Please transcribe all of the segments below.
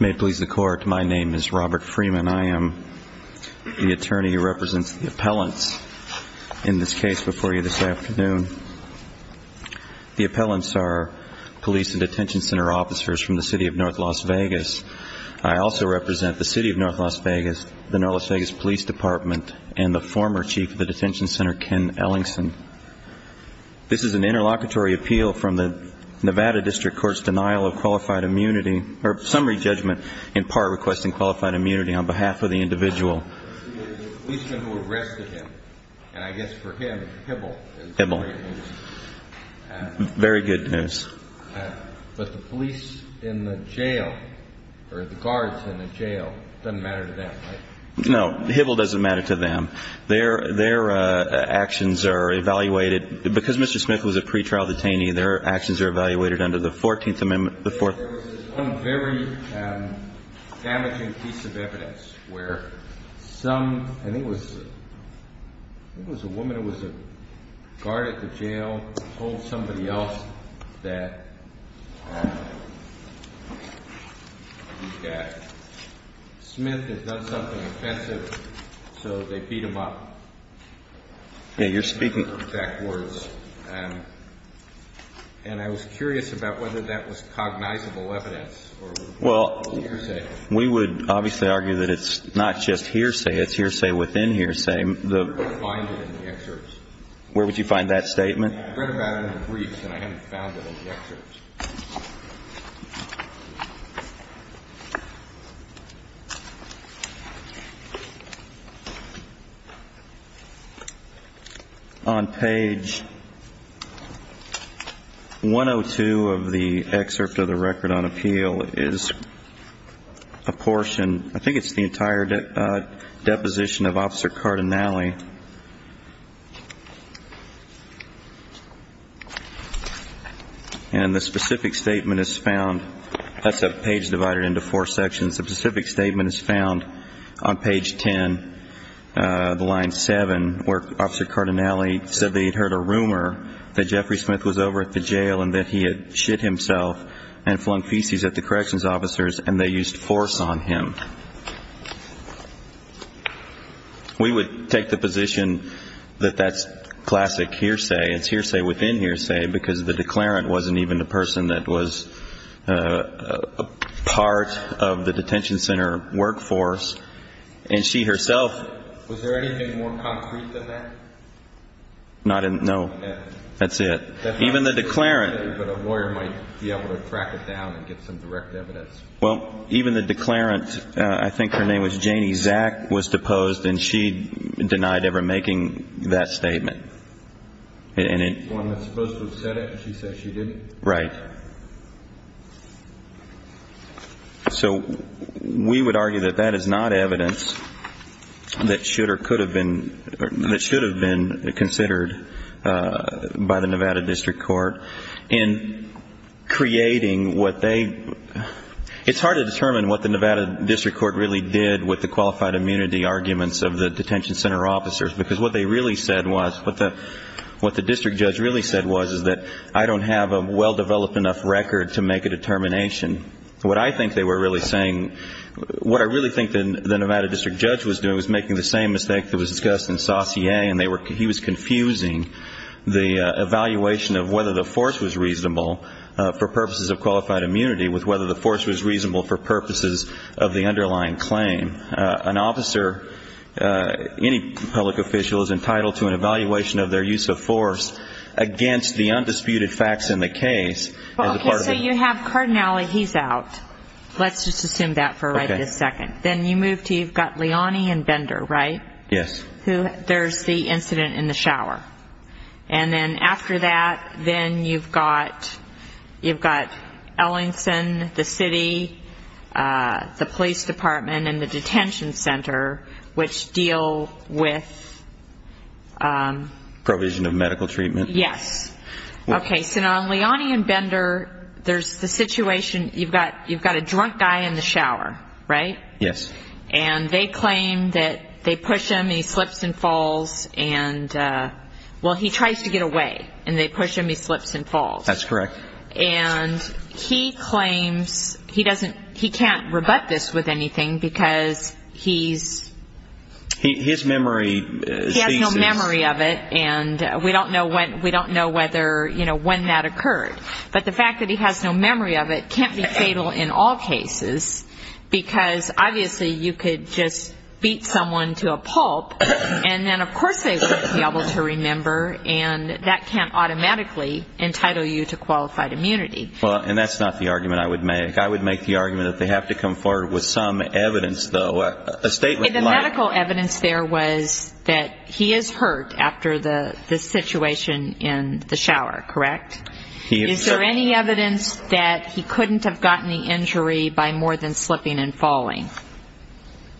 May it please the Court, my name is Robert Freeman. I am the attorney who represents the appellants in this case before you this afternoon. The appellants are police and detention center officers from the City of North Las Vegas. I also represent the City of North Las Vegas, the North Las Vegas Police Department, and the former chief of the detention center, Ken Ellingson. This is an interlocutory appeal from the Nevada District Court's denial of qualified immunity, or summary judgment, in part requesting qualified immunity on behalf of the individual. He is the policeman who arrested him, and I guess for him, Hibble is the great news. Very good news. But the police in the jail, or the guards in the jail, it doesn't matter to them, right? No, Hibble doesn't matter to them. Their actions are evaluated. Because Mr. Smith was a pretrial detainee, their actions are evaluated under the 14th Amendment. There was one very damaging piece of evidence where some, I think it was a woman who was a guard at the jail, told somebody else that Smith had done something offensive, so they beat him up. Yeah, you're speaking... Well, we would obviously argue that it's not just hearsay, it's hearsay within hearsay. Where would you find that statement? I read about it in the briefs, and I haven't found it in the excerpts. On page 102 of the excerpt of the Record on Appeal is a portion, I think it's the entire deposition of Officer Cardinale. And the specific statement is found, that's a page divided into four sections, the specific statement is found on page 10, line 7, where Officer Cardinale said they had heard a rumor that Jeffrey Smith was over at the jail and that he had shit himself and flung feces at the corrections officers and they used force on him. We would take the position that that's classic hearsay, it's hearsay within hearsay, because the declarant wasn't even the person that was part of the detention center workforce, and she herself... Was there anything more concrete than that? No, that's it. Even the declarant... But a lawyer might be able to track it down and get some direct evidence. Well, even the declarant, I think her name was Janie Zack, was deposed and she denied ever making that statement. The one that's supposed to have said it, and she said she didn't? Right. So we would argue that that is not evidence that should or could have been considered by the Nevada District Court in creating what they... It's hard to determine what the Nevada District Court really did with the qualified immunity arguments of the detention center officers, because what they really said was, what the district judge really said was, is that I don't have a well-developed enough record to make a determination. What I think they were really saying, what I really think the Nevada District Judge was doing was making the same mistake that was discussed in Saucier, and he was confusing the evaluation of whether the force was reasonable for purposes of qualified immunity with whether the force was reasonable for purposes of the underlying claim. An officer, any public official, is entitled to an evaluation of their use of force against the undisputed facts in the case. So you have Cardinale, he's out. Let's just assume that for a second. Then you move to, you've got Leone and Bender, right? Yes. There's the incident in the shower. And then after that, then you've got Ellingson, the city, the police department, and the detention center, which deal with... Provision of medical treatment. Yes. Okay, so now Leone and Bender, there's the situation, you've got a drunk guy in the shower, right? Yes. And they claim that they push him, he slips and falls, and, well, he tries to get away, and they push him, he slips and falls. That's correct. And he claims, he can't rebut this with anything, because he's... His memory... He has no memory of it, and we don't know whether, you know, when that occurred. But the fact that he has no memory of it can't be fatal in all cases, because obviously you could just beat someone to a pulp, and then of course they wouldn't be able to remember, and that can't automatically entitle you to qualified immunity. Well, and that's not the argument I would make. I would make the argument that they have to come forward with some evidence, though. A statement like... The medical evidence there was that he is hurt after the situation in the shower, correct? He is hurt. Is there any evidence that he couldn't have gotten the injury by more than slipping and falling?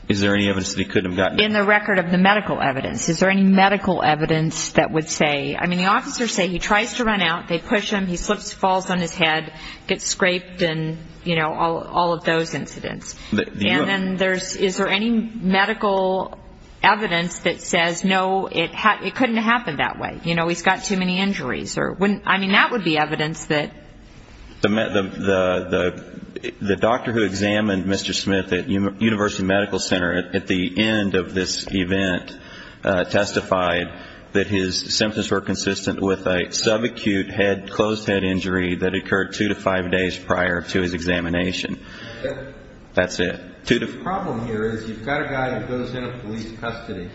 Is there any evidence that he couldn't have gotten it? In the record of the medical evidence, is there any medical evidence that would say... I mean, the officers say he tries to run out, they push him, he slips, falls on his head, gets scraped, and, you know, all of those incidents. And then is there any medical evidence that says, no, it couldn't have happened that way, you know, he's got too many injuries? I mean, that would be evidence that... The doctor who examined Mr. Smith at University Medical Center at the end of this event testified that his symptoms were consistent with a subacute closed head injury that occurred two to five days prior to his examination. That's it. The problem here is you've got a guy who goes into police custody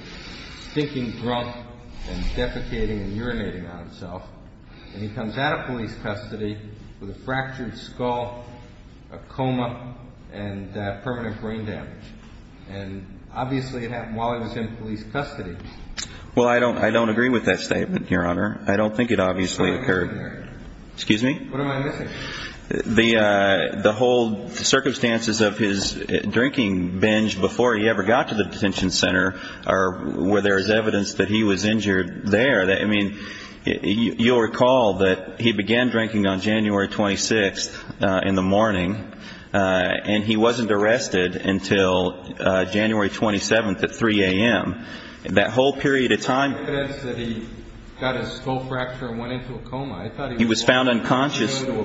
thinking drunk and defecating and urinating on himself, and he comes out of police custody with a fractured skull, a coma, and permanent brain damage. And obviously it happened while he was in police custody. Well, I don't agree with that statement, Your Honor. I don't think it obviously occurred. Excuse me? What am I missing? The whole circumstances of his drinking binge before he ever got to the detention center are where there is evidence that he was injured there. I mean, you'll recall that he began drinking on January 26th in the morning, and he wasn't arrested until January 27th at 3 a.m. That whole period of time... Evidence that he got a skull fracture and went into a coma. He was found unconscious in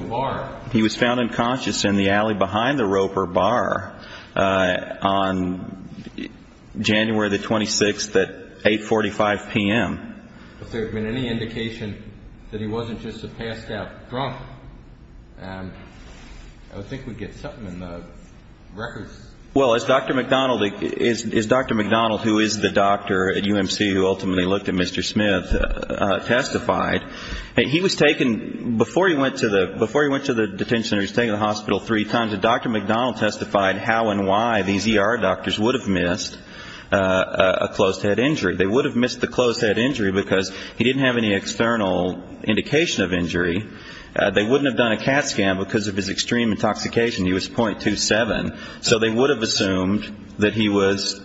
the alley behind the Roper Bar on January 26th at 8.45 p.m. If there had been any indication that he wasn't just a passed-out drunk, I think we'd get something in the records. Well, as Dr. McDonald, who is the doctor at UMC who ultimately looked at Mr. Smith, testified, he was taken before he went to the detention center, he was taken to the hospital three times, and Dr. McDonald testified how and why these ER doctors would have missed a closed-head injury. They would have missed the closed-head injury because he didn't have any external indication of injury. They wouldn't have done a CAT scan because of his extreme intoxication. He was 0.27. So they would have assumed that he was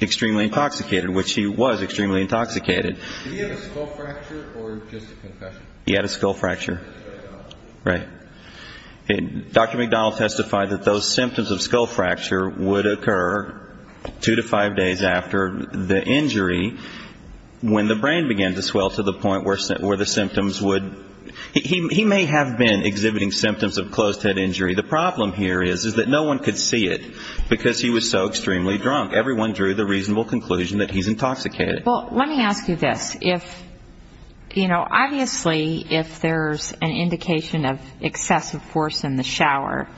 extremely intoxicated, which he was extremely intoxicated. Did he have a skull fracture or just a concussion? He had a skull fracture. Right. Dr. McDonald testified that those symptoms of skull fracture would occur two to five days after the injury when the brain began to swell to the point where the symptoms would he may have been exhibiting symptoms of closed-head injury. The problem here is that no one could see it because he was so extremely drunk. Everyone drew the reasonable conclusion that he's intoxicated. Well, let me ask you this. Obviously, if there's an indication of excessive force in the shower,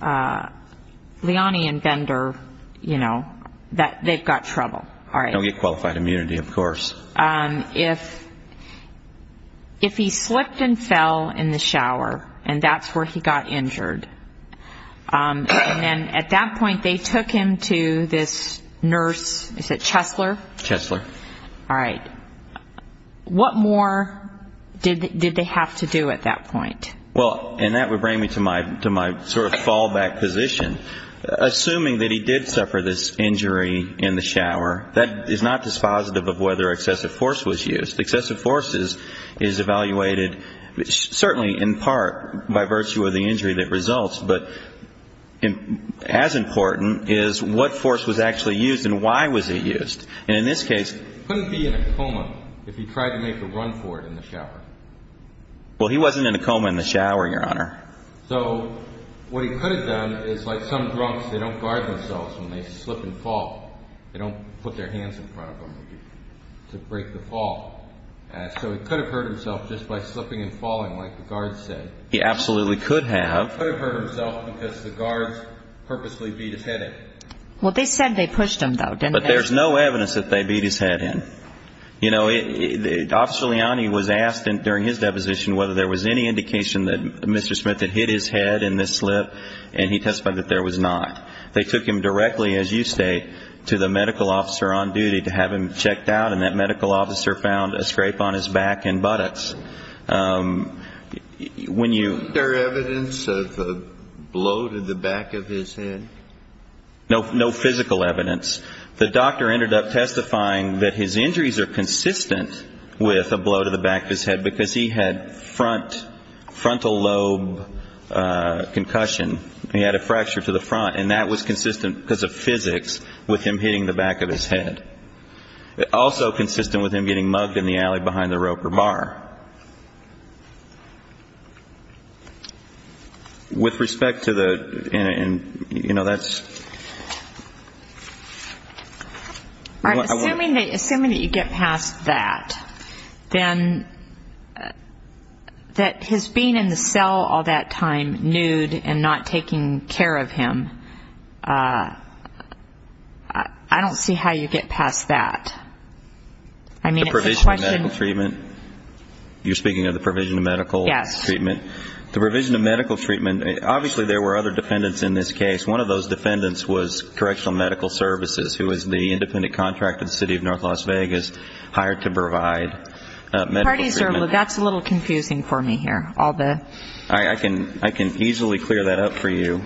Leone and Bender, you know, they've got trouble. Don't get qualified immunity, of course. If he slipped and fell in the shower and that's where he got injured, and then at that point they took him to this nurse, is it Chesler? Chesler. All right. What more did they have to do at that point? Well, and that would bring me to my sort of fallback position. Assuming that he did suffer this injury in the shower, that is not dispositive of whether excessive force was used. Excessive force is evaluated certainly in part by virtue of the injury that results, but as important is what force was actually used and why was it used. And in this case he couldn't be in a coma if he tried to make a run for it in the shower. Well, he wasn't in a coma in the shower, Your Honor. So what he could have done is like some drunks, they don't guard themselves when they slip and fall. They don't put their hands in front of them to break the fall. So he could have hurt himself just by slipping and falling like the guards said. He absolutely could have. He could have hurt himself because the guards purposely beat his head in. Well, they said they pushed him, though, didn't they? But there's no evidence that they beat his head in. You know, Officer Leone was asked during his deposition whether there was any indication that Mr. Smith had hit his head in this slip, and he testified that there was not. They took him directly, as you state, to the medical officer on duty to have him checked out, and that medical officer found a scrape on his back and buttocks. Was there evidence of a blow to the back of his head? No physical evidence. The doctor ended up testifying that his injuries are consistent with a blow to the back of his head because he had frontal lobe concussion. He had a fracture to the front, and that was consistent because of physics with him hitting the back of his head. Also consistent with him getting mugged in the alley behind the Roper bar. With respect to the ñ you know, that's ñ All right, assuming that you get past that, then that his being in the cell all that time, nude, and not taking care of him, I don't see how you get past that. I mean, it's a question ñ The provision of medical treatment? You're speaking of the provision of medical treatment? Yes. The provision of medical treatment, obviously there were other defendants in this case. One of those defendants was Correctional Medical Services, who was the independent contractor in the city of North Las Vegas hired to provide medical treatment. That's a little confusing for me here. I can easily clear that up for you.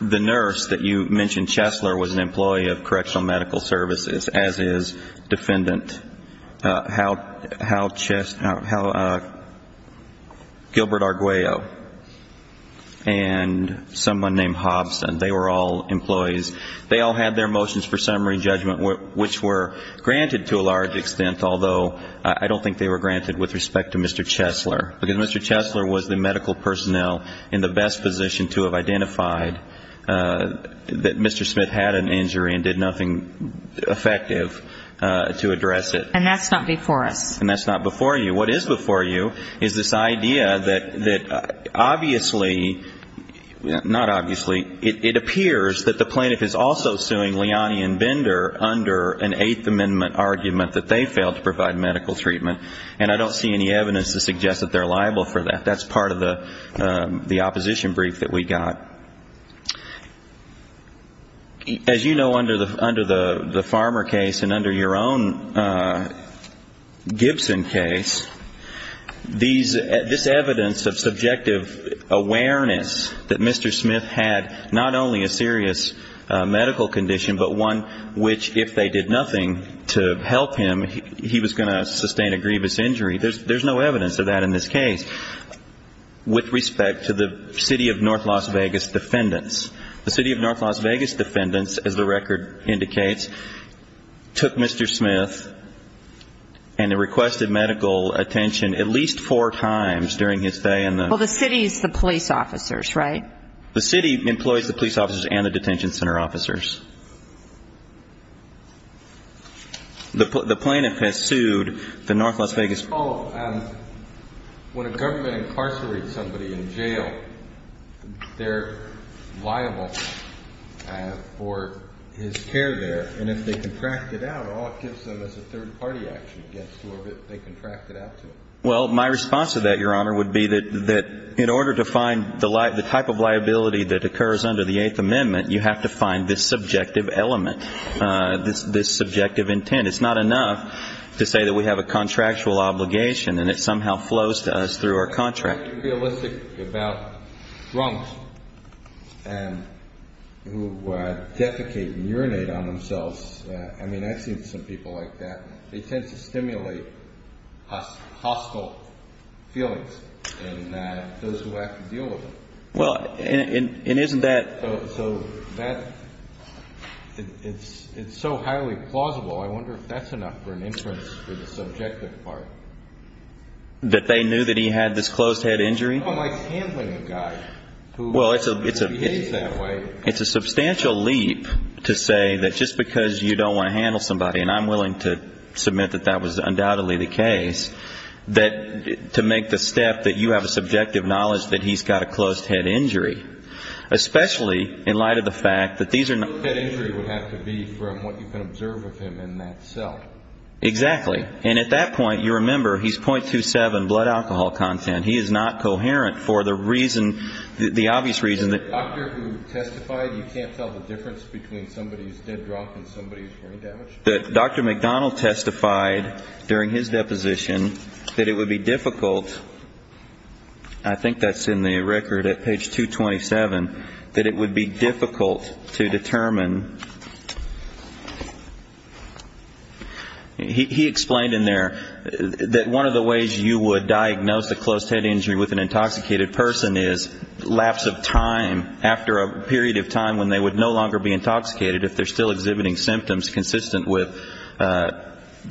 The nurse that you mentioned, Chesler, was an employee of Correctional Medical Services, as is defendant Gilbert Arguello. And someone named Hobson. They were all employees. They all had their motions for summary judgment, which were granted to a large extent, although I don't think they were granted with respect to Mr. Chesler. Because Mr. Chesler was the medical personnel in the best position to have identified that Mr. Smith had an injury and did nothing effective to address it. And that's not before us. And that's not before you. What is before you is this idea that obviously, not obviously, it appears that the plaintiff is also suing Liani and Bender under an Eighth Amendment argument that they failed to provide medical treatment. And I don't see any evidence to suggest that they're liable for that. That's part of the opposition brief that we got. As you know, under the Farmer case and under your own Gibson case, this evidence of subjective awareness that Mr. Smith had not only a serious medical condition, but one which if they did nothing to help him, he was going to sustain a grievous injury, there's no evidence of that in this case. With respect to the City of North Las Vegas defendants, the City of North Las Vegas defendants, as the record indicates, took Mr. Smith and requested medical attention at least four times during his stay in the city. Well, the city is the police officers, right? The city employs the police officers and the detention center officers. The plaintiff has sued the North Las Vegas defendants. Let me follow up. When a government incarcerates somebody in jail, they're liable for his care there, and if they contract it out, all it gives them is a third-party action against whoever they contracted out to. Well, my response to that, Your Honor, would be that in order to find the type of liability that occurs under the Eighth Amendment, you have to find this subjective element, this subjective intent. It's not enough to say that we have a contractual obligation and it somehow flows to us through our contract. I find it unrealistic about drunks who defecate and urinate on themselves. I mean, I've seen some people like that. They tend to stimulate hostile feelings in those who have to deal with them. Well, and isn't that so highly plausible? I wonder if that's enough for an inference for the subjective part. That they knew that he had this closed-head injury? Someone likes handling a guy who behaves that way. Well, it's a substantial leap to say that just because you don't want to handle somebody, and I'm willing to submit that that was undoubtedly the case, that to make the step that you have a subjective knowledge that he's got a closed-head injury, especially in light of the fact that these are not. Closed-head injury would have to be from what you can observe of him in that cell. Exactly. And at that point, you remember, he's .27 blood alcohol content. He is not coherent for the reason, the obvious reason that. The doctor who testified, you can't tell the difference between somebody who's dead drunk and somebody who's brain damaged? That Dr. McDonald testified during his deposition that it would be difficult. I think that's in the record at page 227. That it would be difficult to determine. He explained in there that one of the ways you would diagnose a closed-head injury with an intoxicated person is lapse of time after a period of time when they would no longer be intoxicated if they're still exhibiting symptoms consistent with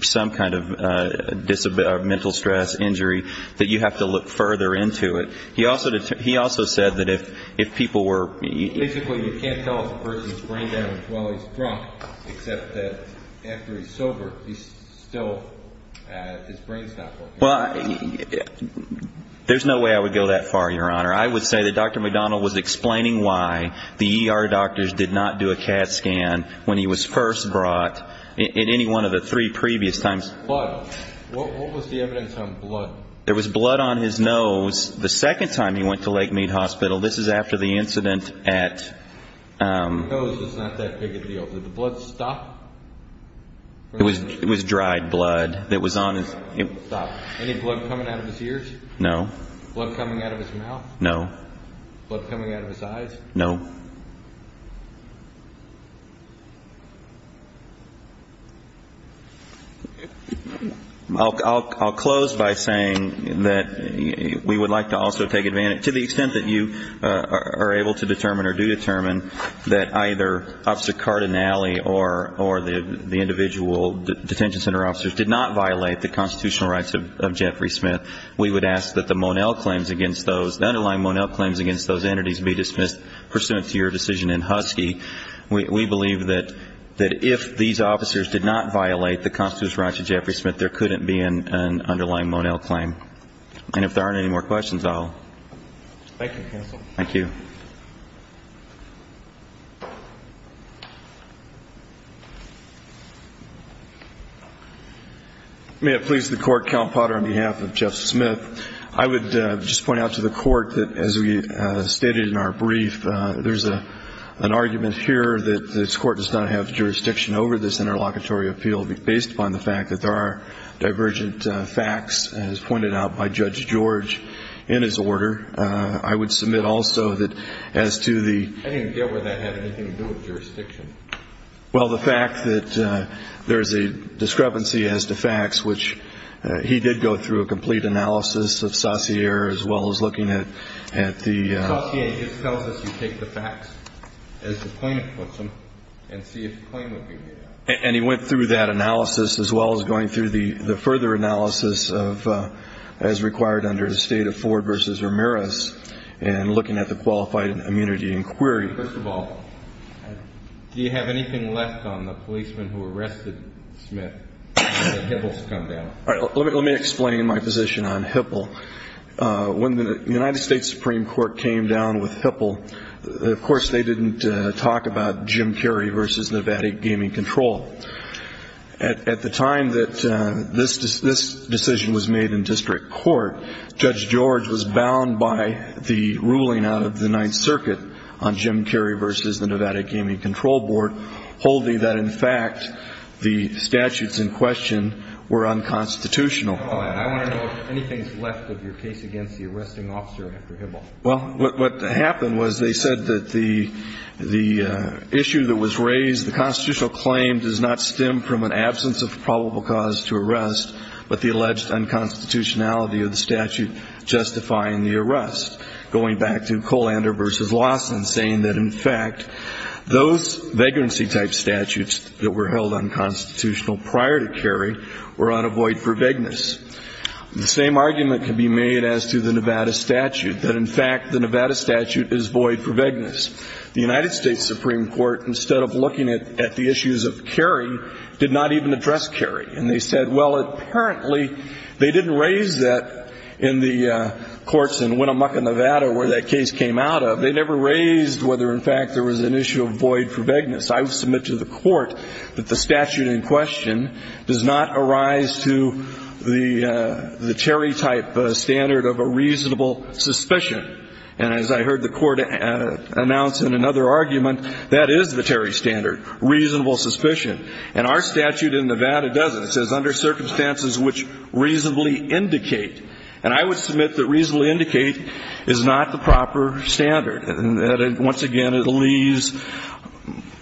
some kind of mental stress, injury, that you have to look further into it. He also said that if people were. Basically, you can't tell if a person's brain damaged while he's drunk, except that after he's sober, he's still, his brain's not working. Well, there's no way I would go that far, Your Honor. I would say that Dr. McDonald was explaining why the ER doctors did not do a CAT scan when he was first brought in any one of the three previous times. Blood. What was the evidence on blood? There was blood on his nose the second time he went to Lake Mead Hospital. This is after the incident at. The nose is not that big a deal. Did the blood stop? It was dried blood that was on his. Any blood coming out of his ears? No. Blood coming out of his mouth? No. Blood coming out of his eyes? No. I'll close by saying that we would like to also take advantage, to the extent that you are able to determine or do determine that either Officer Cardinale or the individual detention center officers did not violate the constitutional rights of Jeffrey Smith, we would ask that the Monell claims against those, the underlying Monell claims against those entities be dismissed pursuant to your decision in Husky. We believe that if these officers did not violate the constitutional rights of Jeffrey Smith, there couldn't be an underlying Monell claim. And if there aren't any more questions, I'll. Thank you, counsel. Thank you. May it please the Court, Count Potter, on behalf of Jeff Smith, I would just point out to the Court that as we stated in our brief, there's an argument here that this Court does not have jurisdiction over this interlocutory appeal based upon the fact that there are divergent facts as pointed out by Judge George in his order. I would submit also that as to the... I didn't get whether that had anything to do with jurisdiction. Well, the fact that there is a discrepancy as to facts, which he did go through a complete analysis of Saussure as well as looking at the... Saussure tells us you take the facts as the plaintiff puts them and see if the claim would be made up. And he went through that analysis as well as going through the further analysis of, as required under the State of Ford v. Ramirez and looking at the qualified immunity inquiry. First of all, do you have anything left on the policeman who arrested Smith when the Hipples come down? Let me explain my position on Hipple. When the United States Supreme Court came down with Hipple, of course they didn't talk about Jim Carrey v. Nevada Gaming Control. At the time that this decision was made in district court, Judge George was bound by the ruling out of the Ninth Circuit on Jim Carrey v. the Nevada Gaming Control Board, holding that in fact the statutes in question were unconstitutional. I want to know if anything is left of your case against the arresting officer after Hipple. Well, what happened was they said that the issue that was raised, the constitutional claim does not stem from an absence of probable cause to arrest, but the alleged unconstitutionality of the statute justifying the arrest, going back to Kollander v. Lawson saying that in fact those vagrancy-type statutes that were held unconstitutional prior to Carrey were on a void for vagueness. The same argument could be made as to the Nevada statute, that in fact the Nevada statute is void for vagueness. The United States Supreme Court, instead of looking at the issues of Carrey, did not even address Carrey. And they said, well, apparently they didn't raise that in the courts in Winnemucca, Nevada, where that case came out of. They never raised whether in fact there was an issue of void for vagueness. I would submit to the court that the statute in question does not arise to the Cherry-type standard of a reasonable suspicion. And as I heard the Court announce in another argument, that is the Cherry standard, reasonable suspicion. And our statute in Nevada doesn't. It says under circumstances which reasonably indicate. And I would submit that reasonably indicate is not the proper standard and that, once again, it leaves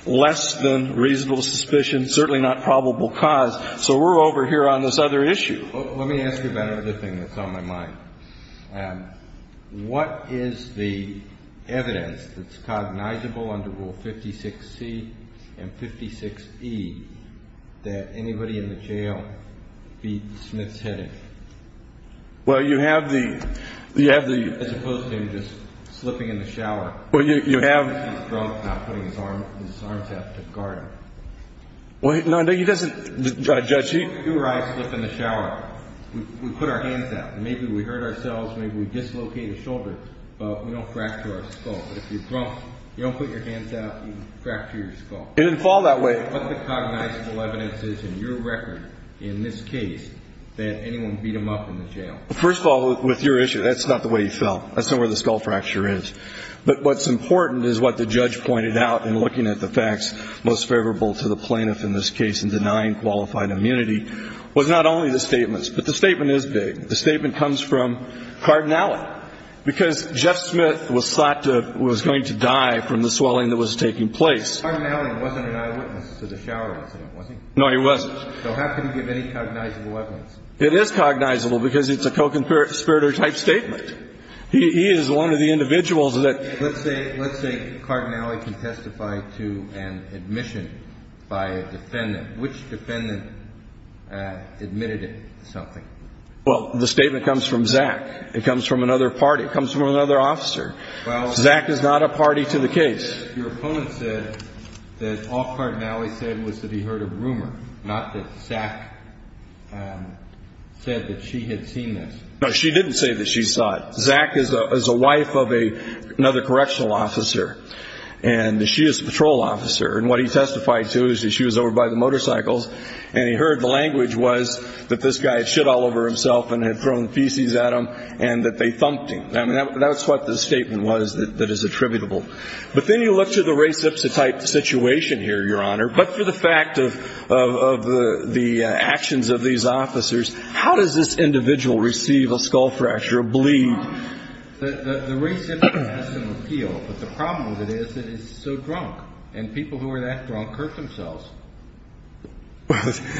less than reasonable suspicion, certainly not probable cause. So we're over here on this other issue. Let me ask you about another thing that's on my mind. What is the evidence that's cognizable under Rule 56C and 56E that anybody in the jail beat the smith's head in? Well, you have the, you have the. As opposed to him just slipping in the shower. Well, you have. He's drunk now, putting his arms out to guard him. Well, no, he doesn't. Your eyes slip in the shower. We put our hands out. Maybe we hurt ourselves. Maybe we dislocate a shoulder. But we don't fracture our skull. If you're drunk, you don't put your hands out, you fracture your skull. It didn't fall that way. What's the cognizable evidence in your record in this case that anyone beat him up in the jail? First of all, with your issue, that's not the way he fell. That's not where the skull fracture is. But what's important is what the judge pointed out in looking at the facts most favorable to the plaintiff in this case and denying qualified immunity was not only the statements. But the statement is big. The statement comes from Cardinale because Jeff Smith was thought to, was going to die from the swelling that was taking place. Cardinale wasn't an eyewitness to the shower incident, was he? No, he wasn't. So how can you give any cognizable evidence? It is cognizable because it's a co-conspirator type statement. He is one of the individuals that. Let's say Cardinale can testify to an admission by a defendant. Which defendant admitted something? Well, the statement comes from Zach. It comes from another party. It comes from another officer. Zach is not a party to the case. Your opponent said that all Cardinale said was that he heard a rumor, not that Zach said that she had seen this. No, she didn't say that she saw it. Zach is a wife of another correctional officer, and she is a patrol officer. And what he testified to is that she was over by the motorcycles, and he heard the language was that this guy had shit all over himself and had thrown feces at him and that they thumped him. I mean, that's what the statement was that is attributable. But then you look to the race-ipsotype situation here, Your Honor. But for the fact of the actions of these officers, how does this individual receive a skull fracture, a bleed? The race symptom has some appeal, but the problem with it is that it's so drunk, and people who are that drunk hurt themselves.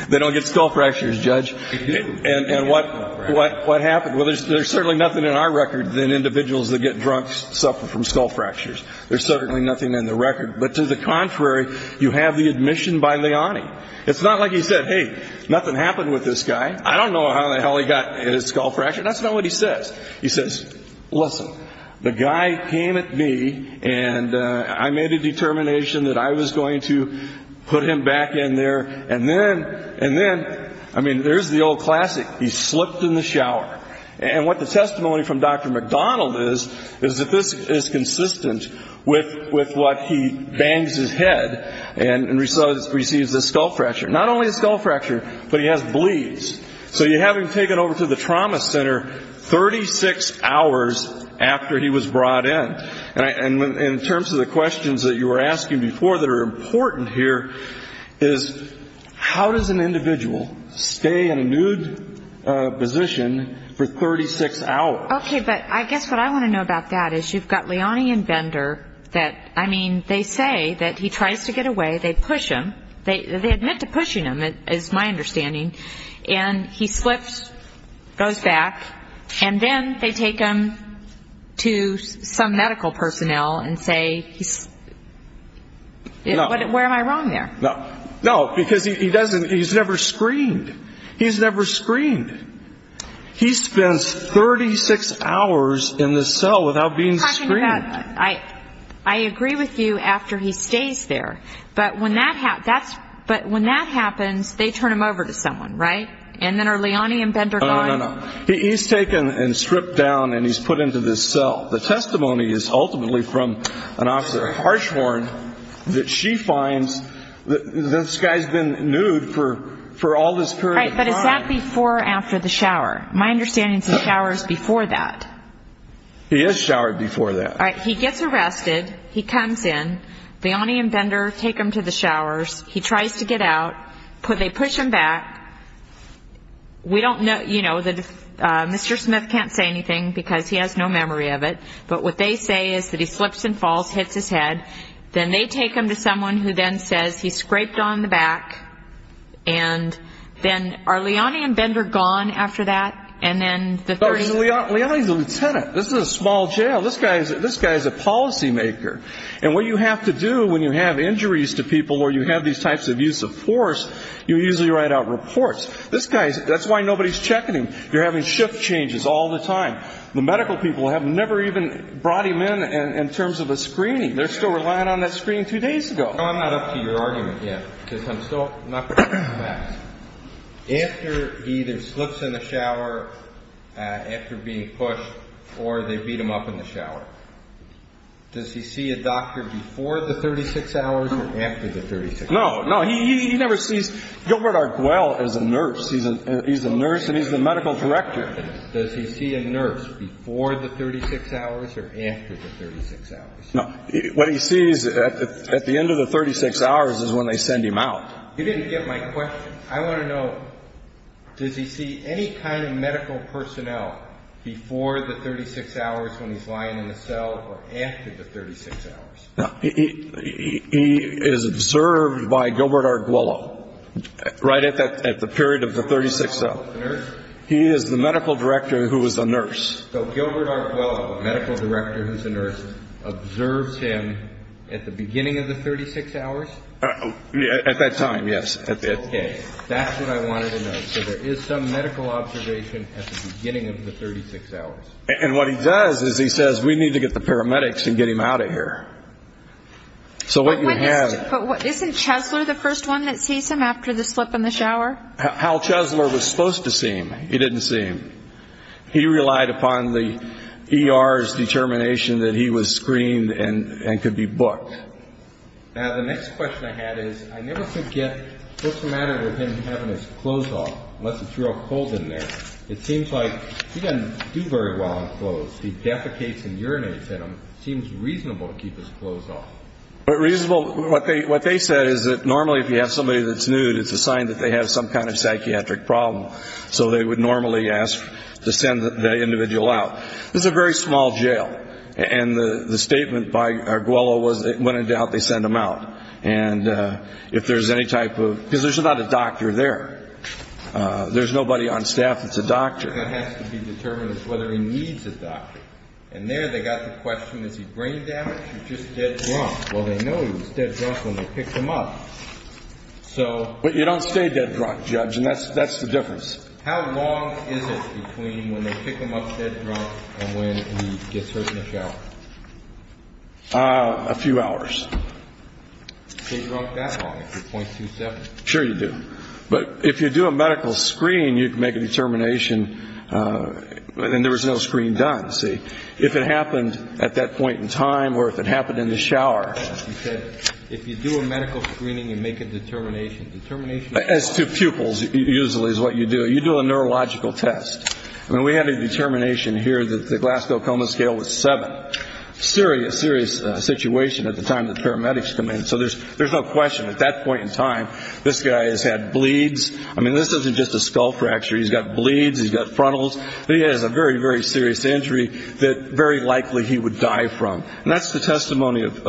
They don't get skull fractures, Judge. They do. And what happened? Well, there's certainly nothing in our record that individuals that get drunk suffer from skull fractures. There's certainly nothing in the record. But to the contrary, you have the admission by Leone. It's not like he said, hey, nothing happened with this guy. I don't know how in the hell he got his skull fracture. That's not what he says. He says, listen, the guy came at me, and I made a determination that I was going to put him back in there. And then, I mean, there's the old classic. He slipped in the shower. And what the testimony from Dr. McDonald is, is that this is consistent with what he bangs his head and receives a skull fracture. Not only a skull fracture, but he has bleeds. So you have him taken over to the trauma center 36 hours after he was brought in. And in terms of the questions that you were asking before that are important here is, how does an individual stay in a nude position for 36 hours? Okay, but I guess what I want to know about that is you've got Leone and Bender that, I mean, they say that he tries to get away. They push him. They admit to pushing him, is my understanding. And he slips, goes back, and then they take him to some medical personnel and say, where am I wrong there? No, because he doesn't, he's never screened. He's never screened. He spends 36 hours in the cell without being screened. I agree with you after he stays there. But when that happens, they turn him over to someone, right? And then are Leone and Bender gone? No, no, no. He's taken and stripped down and he's put into this cell. The testimony is ultimately from an officer at Harshhorn that she finds this guy's been nude for all this period of time. Right, but is that before or after the shower? My understanding is he showers before that. He is showered before that. All right, he gets arrested. He comes in. Leone and Bender take him to the showers. He tries to get out. They push him back. We don't know, you know, Mr. Smith can't say anything because he has no memory of it. But what they say is that he slips and falls, hits his head. Then they take him to someone who then says he's scraped on the back. And then are Leone and Bender gone after that? Leone's a lieutenant. This is a small jail. This guy is a policymaker. And what you have to do when you have injuries to people or you have these types of use of force, you usually write out reports. This guy, that's why nobody's checking him. You're having shift changes all the time. The medical people have never even brought him in in terms of a screening. They're still relying on that screening two days ago. No, I'm not up to your argument yet because I'm still not convinced of that. After he either slips in the shower after being pushed or they beat him up in the shower, does he see a doctor before the 36 hours or after the 36 hours? No, no. He never sees Gilbert Arguelle as a nurse. He's a nurse and he's the medical director. Does he see a nurse before the 36 hours or after the 36 hours? No. What he sees at the end of the 36 hours is when they send him out. You didn't get my question. I want to know, does he see any kind of medical personnel before the 36 hours when he's lying in the cell or after the 36 hours? He is observed by Gilbert Arguelle right at the period of the 36 hours. He is the medical director who is a nurse. So Gilbert Arguelle, the medical director who's a nurse, observes him at the beginning of the 36 hours? At that time, yes. Okay. That's what I wanted to know. So there is some medical observation at the beginning of the 36 hours. And what he does is he says, we need to get the paramedics and get him out of here. So what you have – But isn't Chesler the first one that sees him after the slip in the shower? Hal Chesler was supposed to see him. He didn't see him. He relied upon the ER's determination that he was screened and could be booked. Now, the next question I had is, I never forget what's the matter with him having his clothes off, unless it's real cold in there. It seems like he doesn't do very well in clothes. He defecates and urinates in them. It seems reasonable to keep his clothes off. Reasonable – what they said is that normally if you have somebody that's nude, it's a sign that they have some kind of psychiatric problem. So they would normally ask to send the individual out. This is a very small jail. And the statement by Arguello was that when in doubt, they send him out. And if there's any type of – because there's not a doctor there. There's nobody on staff that's a doctor. What has to be determined is whether he needs a doctor. And there they got the question, is he brain damaged or just dead drunk? Well, they know he was dead drunk when they picked him up. So – But you don't stay dead drunk, Judge, and that's the difference. How long is it between when they pick him up dead drunk and when he gets hurt in the shower? A few hours. Stay drunk that long, 0.27? Sure you do. But if you do a medical screen, you can make a determination. And there was no screen done, see. If it happened at that point in time or if it happened in the shower. You said if you do a medical screening, you make a determination. It's to pupils usually is what you do. You do a neurological test. And we had a determination here that the Glasgow Coma Scale was seven. Serious, serious situation at the time the paramedics come in. So there's no question at that point in time, this guy has had bleeds. I mean, this isn't just a skull fracture. He's got bleeds. He's got frontals. But he has a very, very serious injury that very likely he would die from. And that's the testimony of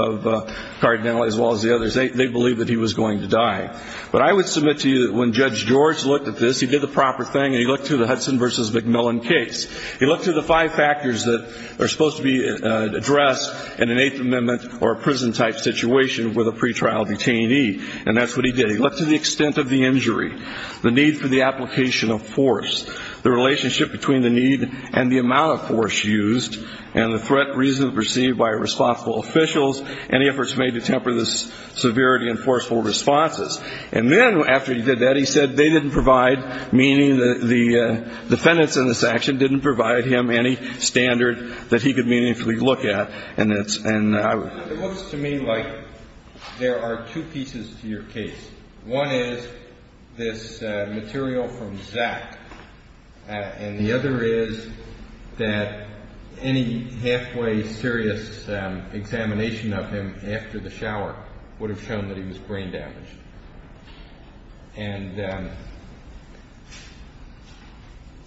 Cardinale as well as the others. They believe that he was going to die. But I would submit to you that when Judge George looked at this, he did the proper thing and he looked through the Hudson v. McMillan case. He looked through the five factors that are supposed to be addressed in an Eighth Amendment or a prison-type situation with a pretrial detainee. And that's what he did. He looked to the extent of the injury, the need for the application of force, the relationship between the need and the amount of force used, and the threat reasonably perceived by responsible officials and the efforts made to temper the severity and forceful responses. And then after he did that, he said they didn't provide meaning, the defendants in this action didn't provide him any standard that he could meaningfully look at. And it's – and I would – It looks to me like there are two pieces to your case. One is this material from Zack. And the other is that any halfway serious examination of him after the shower would have shown that he was brain damaged. And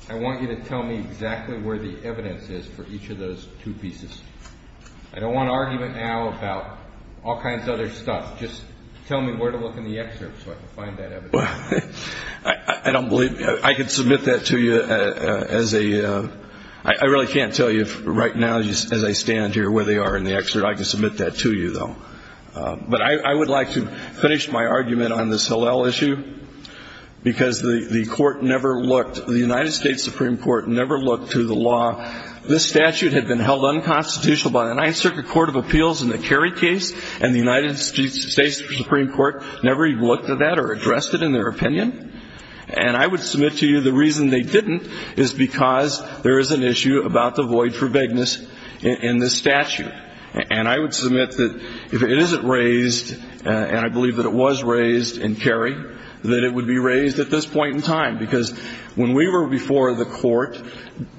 I want you to tell me exactly where the evidence is for each of those two pieces. I don't want an argument now about all kinds of other stuff. Just tell me where to look in the excerpt so I can find that evidence. I don't believe – I can submit that to you as a – I really can't tell you right now as I stand here where they are in the excerpt. I can submit that to you, though. But I would like to finish my argument on this Hillel issue because the court never looked – the United States Supreme Court never looked to the law. This statute had been held unconstitutional by the Ninth Circuit Court of Appeals in the Kerry case, and the United States Supreme Court never even looked at that or addressed it in their opinion. And I would submit to you the reason they didn't is because there is an issue about the void for vagueness in this statute. And I would submit that if it isn't raised, and I believe that it was raised in Kerry, that it would be raised at this point in time. Because when we were before the court,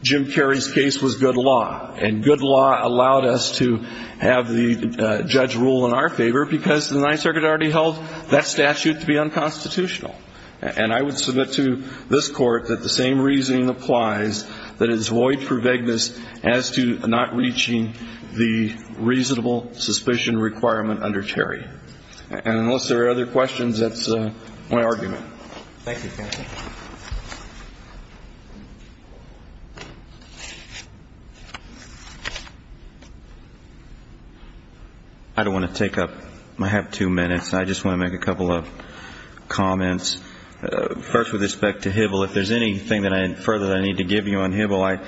Jim Kerry's case was good law. And good law allowed us to have the judge rule in our favor because the Ninth And I would submit to this Court that the same reasoning applies, that it is void for vagueness as to not reaching the reasonable suspicion requirement under Kerry. And unless there are other questions, that's my argument. Thank you, counsel. I don't want to take up – I have two minutes. I just want to make a couple of comments. First, with respect to Hybl, if there's anything further that I need to give you on Hybl,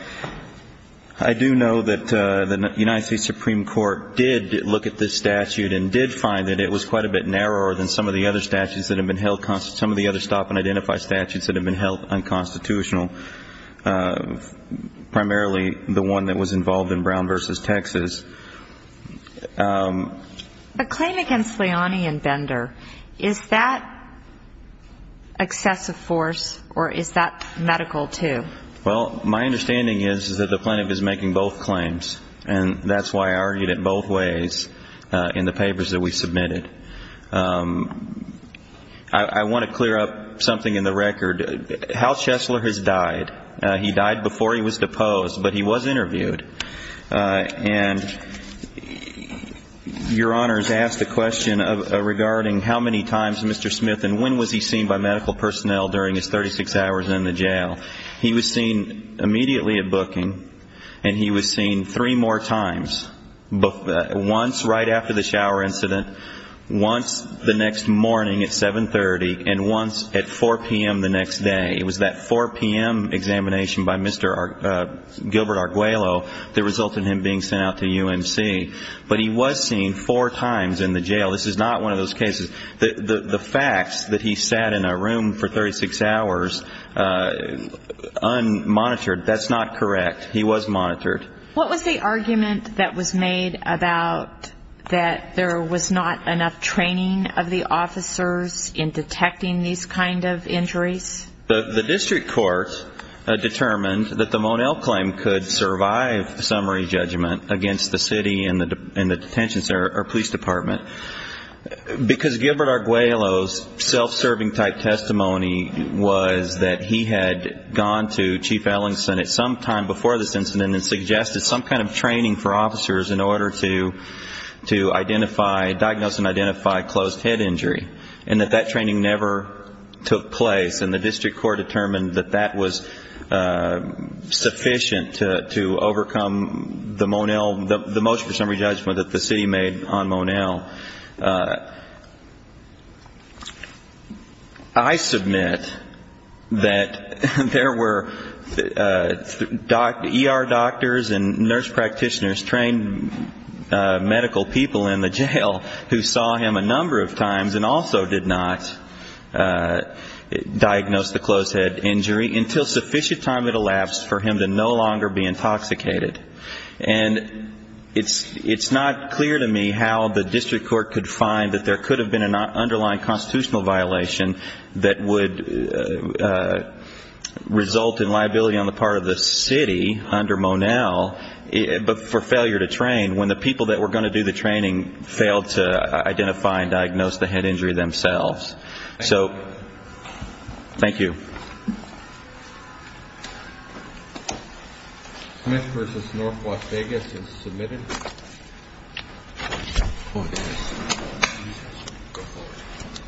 I do know that the United States Supreme Court did look at this statute and did find that it was quite a bit narrower than some of the other statutes that have been held – some of the other stop-and-identify statutes that have been held unconstitutional, primarily the one that was involved in Brown v. Texas. A claim against Leone and Bender, is that excessive force or is that medical, too? Well, my understanding is that the plaintiff is making both claims. And that's why I argued it both ways in the papers that we submitted. I want to clear up something in the record. Hal Chesler has died. He died before he was deposed, but he was interviewed. And Your Honor has asked a question regarding how many times Mr. Smith and when was he seen by medical personnel during his 36 hours in the jail. He was seen immediately at booking, and he was seen three more times, once right after the shower incident, once the next morning at 7.30, and once at 4 p.m. the next day. It was that 4 p.m. examination by Mr. Gilbert Arguello that resulted in him being sent out to UMC. But he was seen four times in the jail. This is not one of those cases. The facts that he sat in a room for 36 hours unmonitored, that's not correct. He was monitored. What was the argument that was made about that there was not enough training of the officers in detecting these kind of injuries? The district court determined that the Monell claim could survive summary judgment against the city and the detention center or police department, because Gilbert Arguello's self-serving type testimony was that he had gone to Chief Ellingson at some time before this incident and suggested some kind of training for officers in order to identify, diagnose and identify closed head injury, and that that training never took place. And the district court determined that that was sufficient to overcome the Monell, the motion for summary judgment that the city made on Monell. I submit that there were ER doctors and nurse practitioners trained medical people in the jail who saw him a number of times and also did not diagnose the closed head injury until sufficient time had elapsed for him to no longer be intoxicated. And it's not clear to me how the district court could find that there could have been an underlying constitutional violation that would result in liability on the part of the city under Monell, but for failure to train when the people that were going to do the training failed to identify and diagnose the head injury themselves. So thank you. Smith versus North Las Vegas is submitted. Oh, yes. Go for it.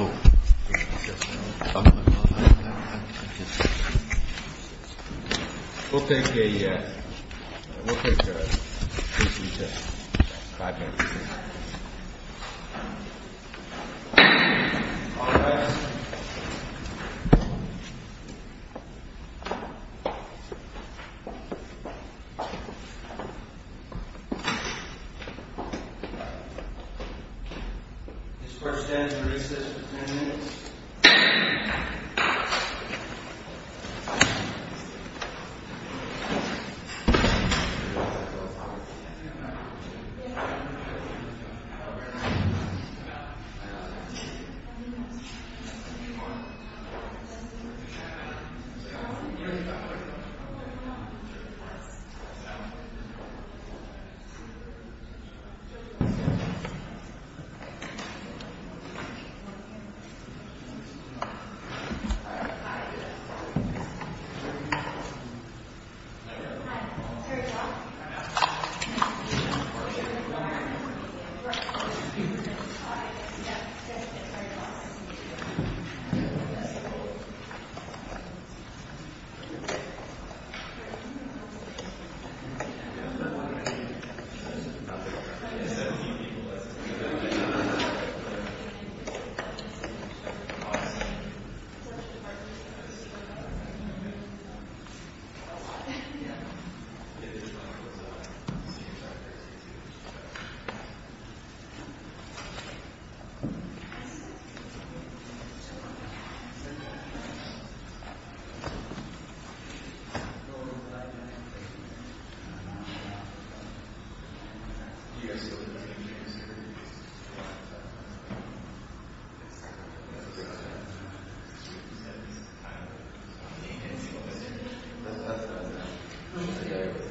Oh. We'll take a five minute break. All rise. We'll take a five minute break. We'll take a five minute break. We'll take a five minute break. We'll take a five minute break. We'll take a five minute break.